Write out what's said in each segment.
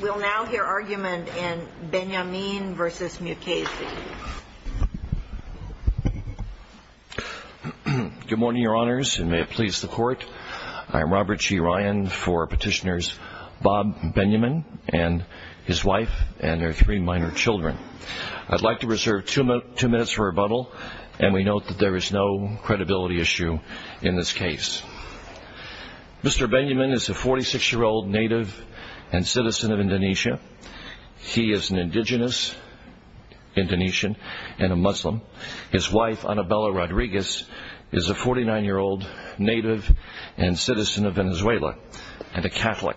We'll now hear argument in Benyamin v. Mukasey. Good morning, Your Honors, and may it please the Court. I'm Robert G. Ryan for Petitioners Bob Benyamin and his wife and their three minor children. I'd like to reserve two minutes for rebuttal, and we note that there is no credibility issue in this case. Mr. Benyamin is a 46-year-old native and citizen of Indonesia. He is an indigenous Indonesian and a Muslim. His wife, Annabella Rodriguez, is a 49-year-old native and citizen of Venezuela and a Catholic.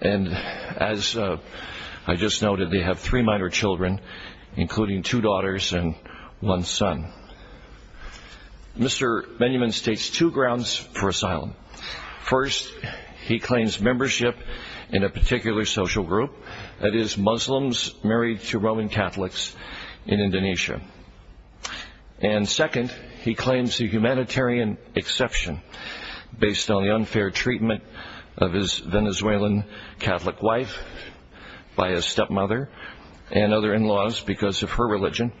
And as I just noted, they have three minor children, including two daughters and one son. Mr. Benyamin states two grounds for asylum. First, he claims membership in a particular social group, that is, Muslims married to Roman Catholics in Indonesia. And second, he claims a humanitarian exception based on the unfair treatment of his Venezuelan Catholic wife by his stepmother and other in-laws because of her religion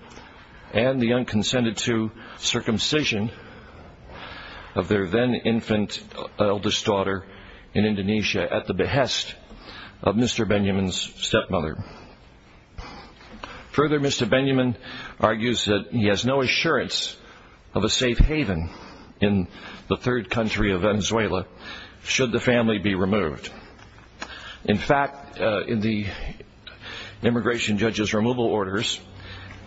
and the unconsented-to circumcision of their then-infant eldest daughter in Indonesia at the behest of Mr. Benyamin's stepmother. Further, Mr. Benyamin argues that he has no assurance of a safe haven in the third country of Venezuela should the family be removed. In fact, in the immigration judge's removal orders,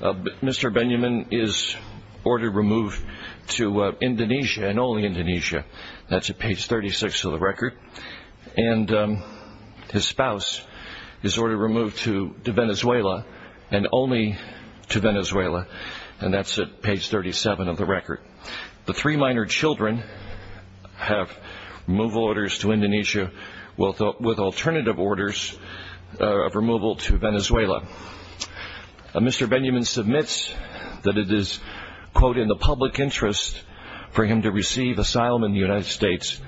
Mr. Benyamin is ordered removed to Indonesia and only Indonesia. That's at page 36 of the record. And his spouse is ordered removed to Venezuela and only to Venezuela, and that's at page 37 of the record. The three minor children have removal orders to Indonesia with alternative orders of removal to Venezuela. Mr. Benyamin submits that it is, quote, in the public interest for him to receive asylum in the United States,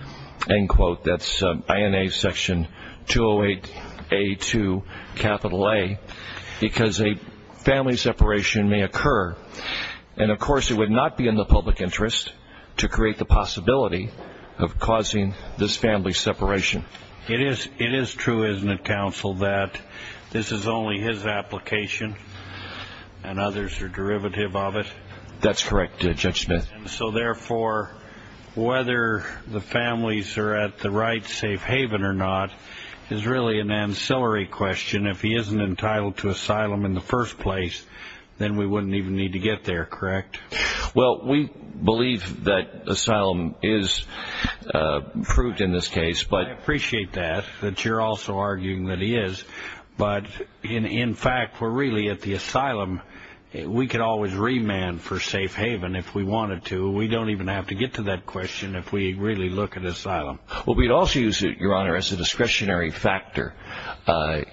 end quote. That's INA section 208A2, capital A, because a family separation may occur. And, of course, it would not be in the public interest to create the possibility of causing this family separation. It is true, isn't it, counsel, that this is only his application and others are derivative of it? That's correct, Judge Smith. So, therefore, whether the families are at the right safe haven or not is really an ancillary question. If he isn't entitled to asylum in the first place, then we wouldn't even need to get there, correct? Well, we believe that asylum is fruit in this case. I appreciate that, that you're also arguing that he is. But, in fact, we're really at the asylum. We could always remand for safe haven if we wanted to. We don't even have to get to that question if we really look at asylum. Well, we'd also use it, Your Honor, as a discretionary factor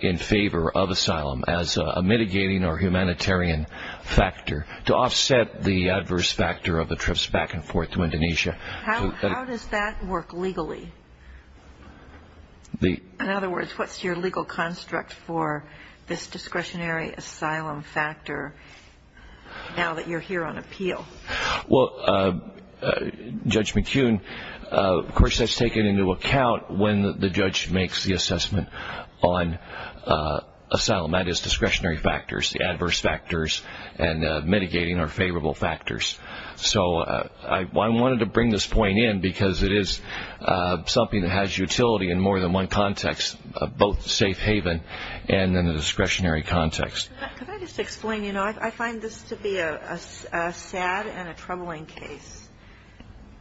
in favor of asylum as a mitigating or humanitarian factor to offset the adverse factor of the trips back and forth to Indonesia. How does that work legally? In other words, what's your legal construct for this discretionary asylum factor now that you're here on appeal? Well, Judge McKeown, of course, that's taken into account when the judge makes the assessment on asylum. That is discretionary factors, the adverse factors, and mitigating or favorable factors. So I wanted to bring this point in because it is something that has utility in more than one context, both safe haven and in the discretionary context. Could I just explain? You know, I find this to be a sad and a troubling case.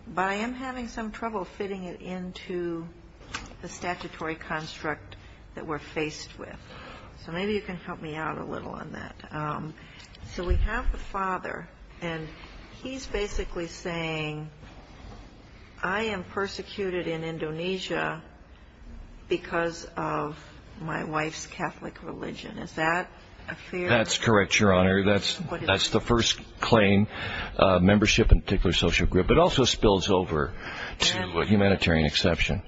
But I am having some trouble fitting it into the statutory construct that we're faced with. So maybe you can help me out a little on that. So we have the father, and he's basically saying, I am persecuted in Indonesia because of my wife's Catholic religion. Is that a fair? That's correct, Your Honor. That's the first claim, membership in a particular social group. It also spills over to a humanitarian exception.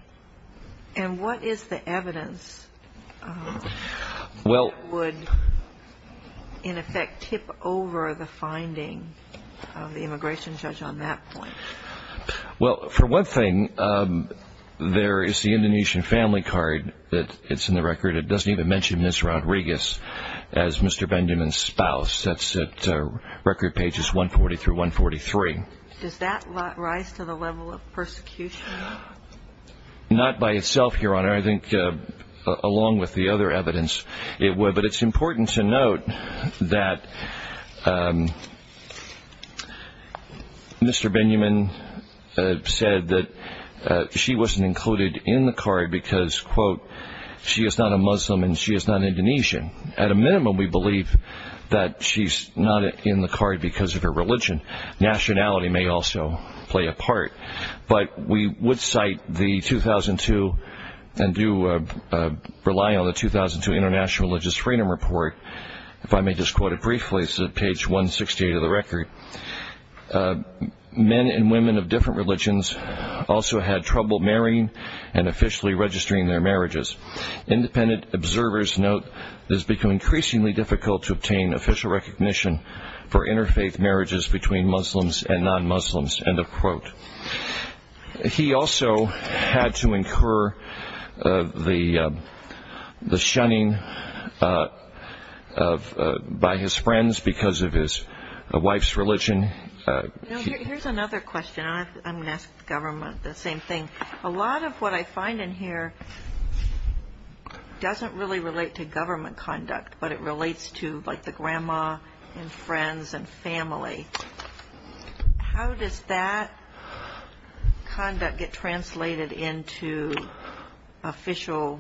And what is the evidence that would, in effect, tip over the finding of the immigration judge on that point? Well, for one thing, there is the Indonesian family card that's in the record. It doesn't even mention Ms. Rodriguez as Mr. Benjamin's spouse. That's at record pages 140 through 143. Does that rise to the level of persecution? Not by itself, Your Honor. I think along with the other evidence it would. But it's important to note that Mr. Benjamin said that she wasn't included in the card because, quote, she is not a Muslim and she is not Indonesian. At a minimum, we believe that she's not in the card because of her religion. Nationality may also play a part. But we would cite the 2002 and do rely on the 2002 International Religious Freedom Report. If I may just quote it briefly. It's at page 168 of the record. Men and women of different religions also had trouble marrying and officially registering their marriages. Independent observers note it has become increasingly difficult to obtain official recognition for interfaith marriages between Muslims and non-Muslims, end of quote. He also had to incur the shunning by his friends because of his wife's religion. Here's another question. I'm going to ask the government the same thing. A lot of what I find in here doesn't really relate to government conduct, but it relates to like the grandma and friends and family. How does that conduct get translated into official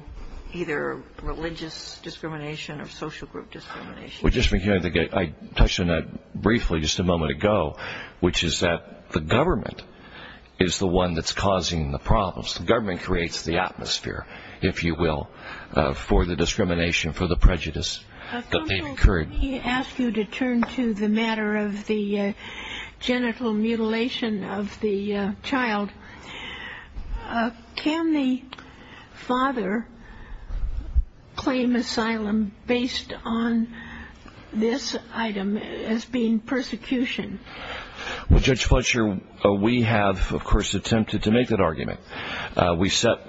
either religious discrimination or social group discrimination? I touched on that briefly just a moment ago, which is that the government is the one that's causing the problems. The government creates the atmosphere, if you will, for the discrimination, for the prejudice that may have occurred. Let me ask you to turn to the matter of the genital mutilation of the child. Can the father claim asylum based on this item as being persecution? Well, Judge Fletcher, we have, of course, attempted to make that argument.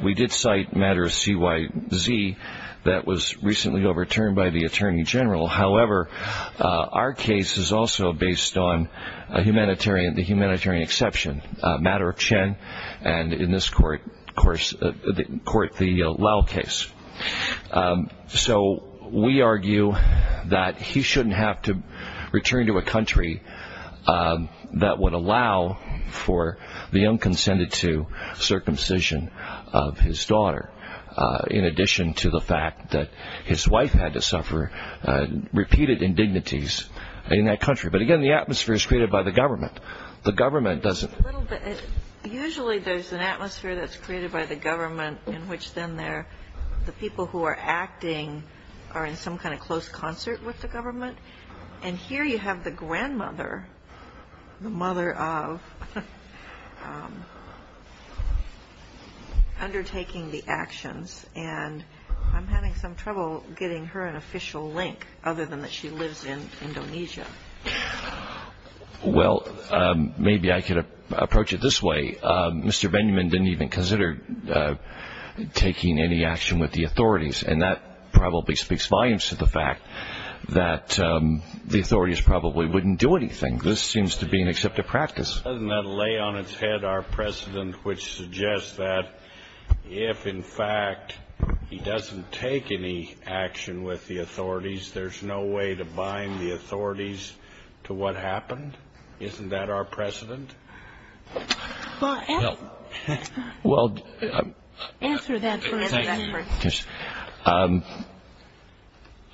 We did cite a matter of CYZ that was recently overturned by the attorney general. However, our case is also based on the humanitarian exception, a matter of Chen, and in this court, the Liao case. So we argue that he shouldn't have to return to a country that would allow for the unconsented to circumcision of his daughter, in addition to the fact that his wife had to suffer repeated indignities in that country. But again, the atmosphere is created by the government. Usually there's an atmosphere that's created by the government in which then the people who are acting are in some kind of close concert with the government. And here you have the grandmother, the mother of, undertaking the actions. And I'm having some trouble getting her an official link, other than that she lives in Indonesia. Well, maybe I could approach it this way. Mr. Benjamin didn't even consider taking any action with the authorities, and that probably speaks volumes to the fact that the authorities probably wouldn't do anything. This seems to be an accepted practice. Doesn't that lay on its head our precedent, which suggests that if, in fact, he doesn't take any action with the authorities, there's no way to bind the authorities to what happened? Isn't that our precedent? Well, answer that for us first.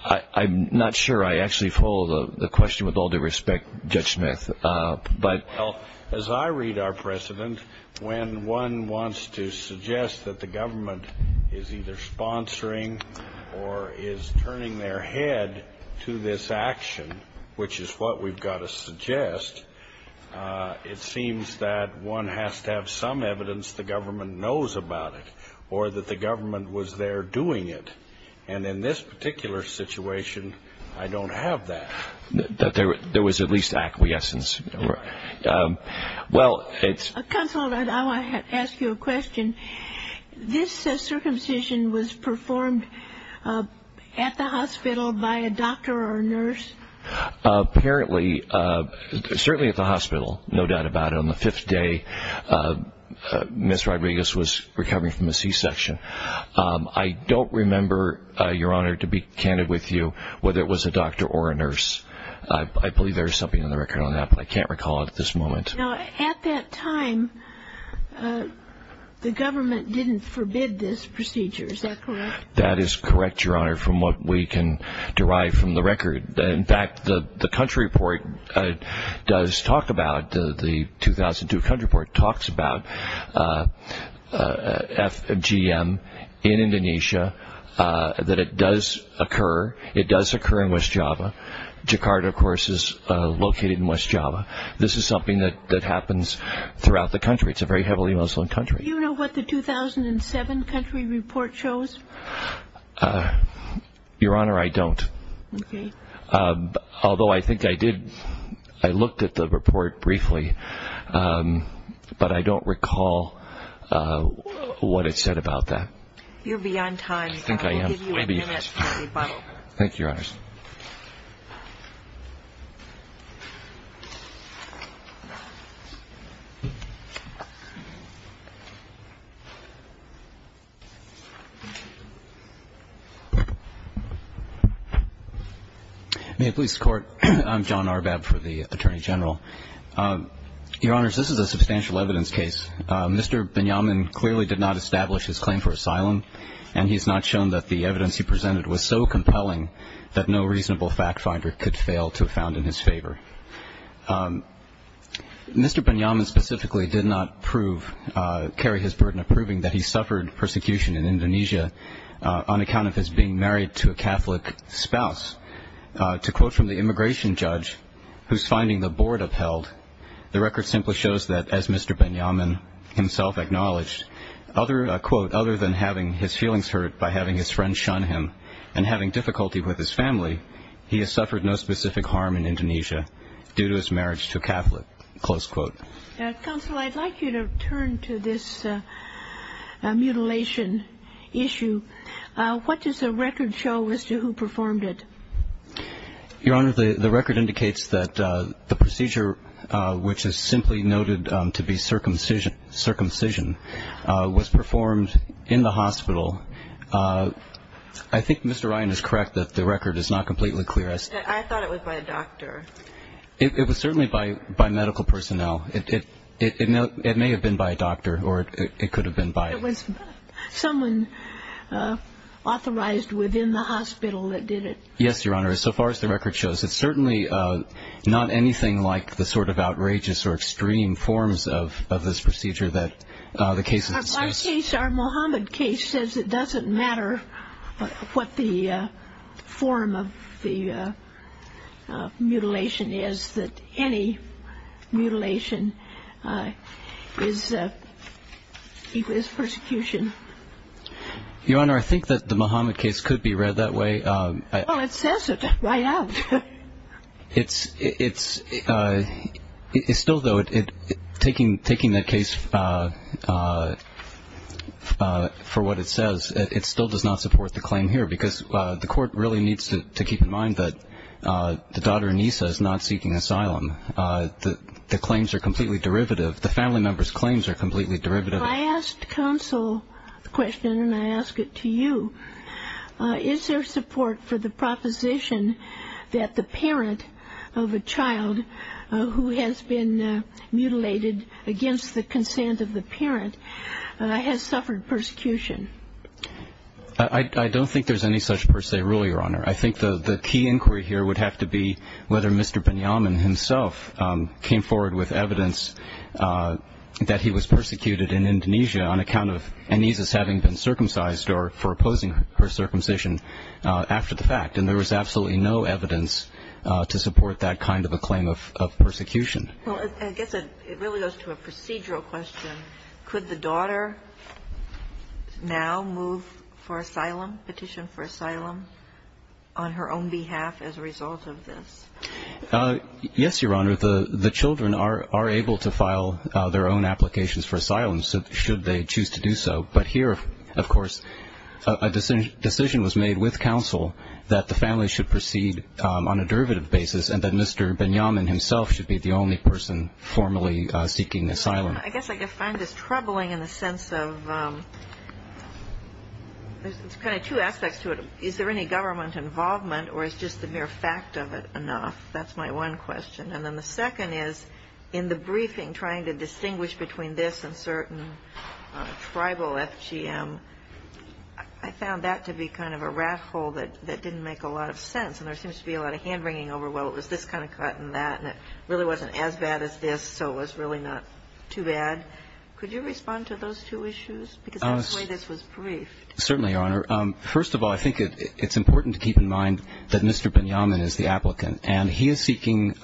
I'm not sure I actually follow the question with all due respect, Judge Smith. Well, as I read our precedent, when one wants to suggest that the government is either sponsoring or is turning their head to this action, which is what we've got to suggest, it seems that one has to have some evidence the government knows about it, or that the government was there doing it. And in this particular situation, I don't have that. There was at least acquiescence. Counselor, I want to ask you a question. This circumcision was performed at the hospital by a doctor or a nurse? Apparently, certainly at the hospital, no doubt about it. On the fifth day, Ms. Rodriguez was recovering from a C-section. I don't remember, Your Honor, to be candid with you whether it was a doctor or a nurse. I believe there is something in the record on that, but I can't recall it at this moment. Now, at that time, the government didn't forbid this procedure, is that correct? That is correct, Your Honor, from what we can derive from the record. In fact, the country report does talk about, the 2002 country report talks about FGM in Indonesia, that it does occur. It does occur in West Java. Jakarta, of course, is located in West Java. This is something that happens throughout the country. It's a very heavily Muslim country. Do you know what the 2007 country report shows? Your Honor, I don't. Okay. Although I think I did, I looked at the report briefly, but I don't recall what it said about that. You're beyond time. I think I am. I'll give you a minute for a follow-up. Thank you, Your Honors. May it please the Court. I'm John Arbab for the Attorney General. Your Honors, this is a substantial evidence case. Mr. Binyamin clearly did not establish his claim for asylum, and he has not shown that the evidence he presented was so compelling that no reasonable fact finder could fail to have found in his favor. Mr. Binyamin specifically did not prove, carry his burden of proving that he suffered persecution in Indonesia on account of his being married to a Catholic spouse. To quote from the immigration judge who's finding the board upheld, the record simply shows that as Mr. Binyamin himself acknowledged, quote, other than having his feelings hurt by having his friend shun him and having difficulty with his family, he has suffered no specific harm in Indonesia due to his marriage to a Catholic, close quote. Counsel, I'd like you to turn to this mutilation issue. What does the record show as to who performed it? Your Honor, the record indicates that the procedure, which is simply noted to be circumcision, was performed in the hospital. I think Mr. Ryan is correct that the record is not completely clear. I thought it was by a doctor. It was certainly by medical personnel. It may have been by a doctor or it could have been by a doctor. It was someone authorized within the hospital that did it. Yes, Your Honor. So far as the record shows, it's certainly not anything like the sort of outrageous or extreme forms of this procedure that the case has discussed. In this case, our Mohammed case says it doesn't matter what the form of the mutilation is, that any mutilation is persecution. Your Honor, I think that the Mohammed case could be read that way. Well, it says it right out. It's still, though, taking the case for what it says, it still does not support the claim here, because the court really needs to keep in mind that the daughter, Anissa, is not seeking asylum. The claims are completely derivative. The family member's claims are completely derivative. I asked counsel the question and I ask it to you. Is there support for the proposition that the parent of a child who has been mutilated against the consent of the parent has suffered persecution? I don't think there's any such per se rule, Your Honor. I think the key inquiry here would have to be whether Mr. Benyamin himself came forward with evidence that he was persecuted in Indonesia on account of Anissa's having been circumcised or for opposing her circumcision after the fact. And there was absolutely no evidence to support that kind of a claim of persecution. Well, I guess it really goes to a procedural question. Could the daughter now move for asylum, petition for asylum on her own behalf as a result of this? Yes, Your Honor. The children are able to file their own applications for asylum should they choose to do so. But here, of course, a decision was made with counsel that the family should proceed on a derivative basis and that Mr. Benyamin himself should be the only person formally seeking asylum. I guess I find this troubling in the sense of there's kind of two aspects to it. Is there any government involvement or is just the mere fact of it enough? That's my one question. And then the second is in the briefing trying to distinguish between this and certain tribal FGM, I found that to be kind of a rat hole that didn't make a lot of sense. And there seems to be a lot of hand-wringing over, well, it was this kind of cut and that, and it really wasn't as bad as this so it was really not too bad. Could you respond to those two issues? Because that's the way this was briefed. Certainly, Your Honor. First of all, I think it's important to keep in mind that Mr. Benyamin is the applicant and he is seeking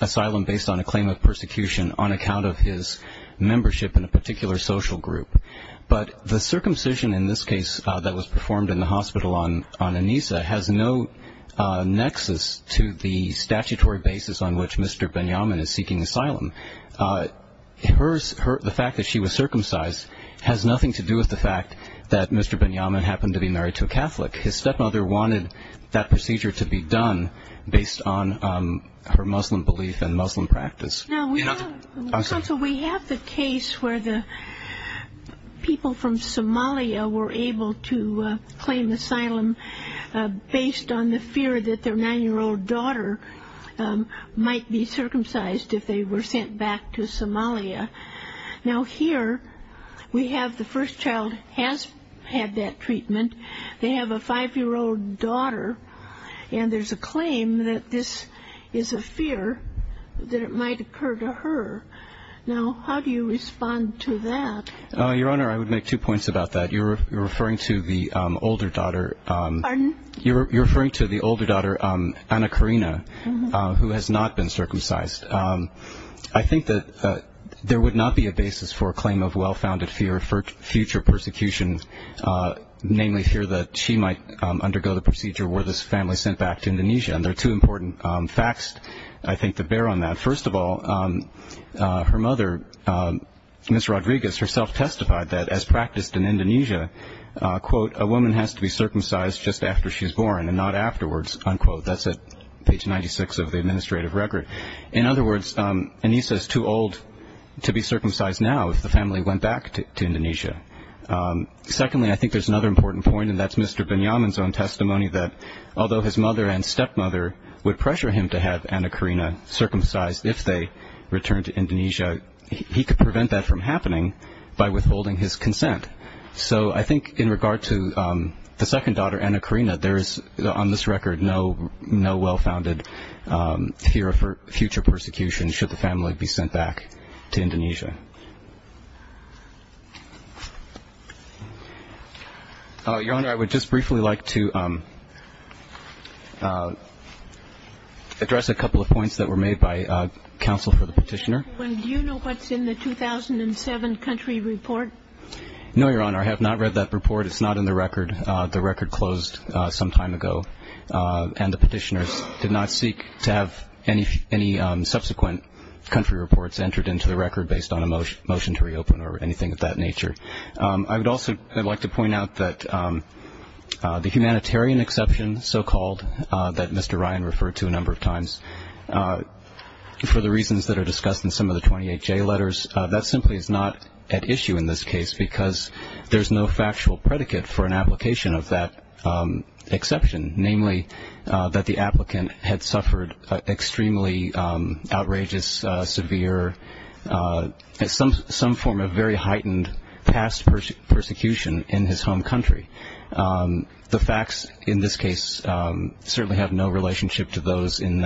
asylum based on a claim of persecution on account of his membership in a particular social group. But the circumcision in this case that was performed in the hospital on Anissa has no nexus to the statutory basis on which Mr. Benyamin is seeking asylum. The fact that she was circumcised has nothing to do with the fact that Mr. Benyamin happened to be married to a Catholic. His stepmother wanted that procedure to be done based on her Muslim belief and Muslim practice. Counsel, we have the case where the people from Somalia were able to claim asylum based on the fear that their 9-year-old daughter might be circumcised if they were sent back to Somalia. Now, here we have the first child has had that treatment. They have a 5-year-old daughter, and there's a claim that this is a fear that it might occur to her. Now, how do you respond to that? Your Honor, I would make two points about that. You're referring to the older daughter. Pardon? You're referring to the older daughter, Anna Karina, who has not been circumcised. I think that there would not be a basis for a claim of well-founded fear for future persecution, namely fear that she might undergo the procedure where this family is sent back to Indonesia, and there are two important facts, I think, to bear on that. First of all, her mother, Ms. Rodriguez, herself testified that as practiced in Indonesia, quote, a woman has to be circumcised just after she's born and not afterwards, unquote. That's at page 96 of the administrative record. In other words, Anissa is too old to be circumcised now if the family went back to Indonesia. Secondly, I think there's another important point, and that's Mr. Benyamin's own testimony, that although his mother and stepmother would pressure him to have Anna Karina circumcised if they returned to Indonesia, he could prevent that from happening by withholding his consent. So I think in regard to the second daughter, Anna Karina, there is, on this record, no well-founded fear for future persecution should the family be sent back to Indonesia. Your Honor, I would just briefly like to address a couple of points that were made by counsel for the petitioner. Do you know what's in the 2007 country report? No, Your Honor. I have not read that report. It's not in the record. The record closed some time ago, and the petitioners did not seek to have any subsequent country reports entered into the record based on a motion to reopen or anything of that nature. I would also like to point out that the humanitarian exception, so-called, that Mr. Ryan referred to a number of times, for the reasons that are discussed in some of the 28J letters, that simply is not at issue in this case because there's no factual predicate for an application of that exception, namely that the applicant had suffered extremely outrageous, severe, some form of very heightened past persecution in his home country. The facts in this case certainly have no relationship to those in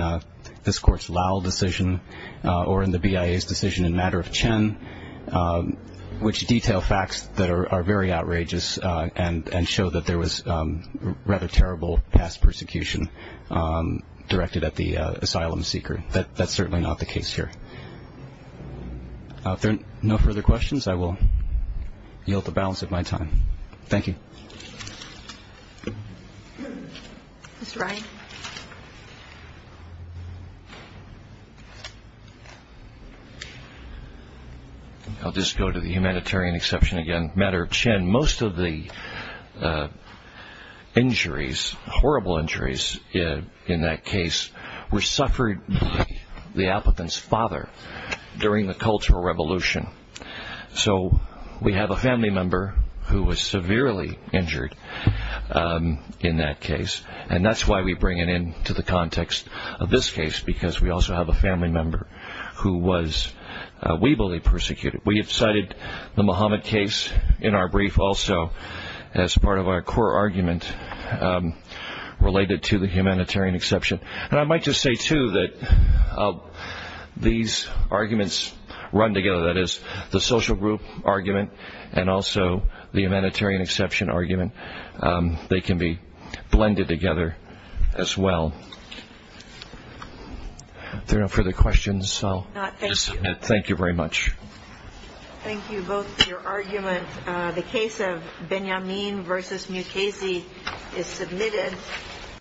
this Court's Lau decision or in the BIA's decision in Matter of Chen, which detail facts that are very outrageous and show that there was rather terrible past persecution directed at the asylum seeker. That's certainly not the case here. If there are no further questions, I will yield the balance of my time. Thank you. Mr. Ryan? I'll just go to the humanitarian exception again. Matter of Chen, most of the injuries, horrible injuries in that case, were suffered by the applicant's father during the Cultural Revolution. So we have a family member who was severely injured in that case, and that's why we bring it into the context of this case, because we also have a family member who was weebly persecuted. We have cited the Mohammed case in our brief also as part of our core argument related to the humanitarian exception. And I might just say too that these arguments run together, that is the social group argument and also the humanitarian exception argument. They can be blended together as well. If there are no further questions, I'll just submit. Thank you very much. Thank you both for your argument. The case of Benyamin v. Mukasey is submitted.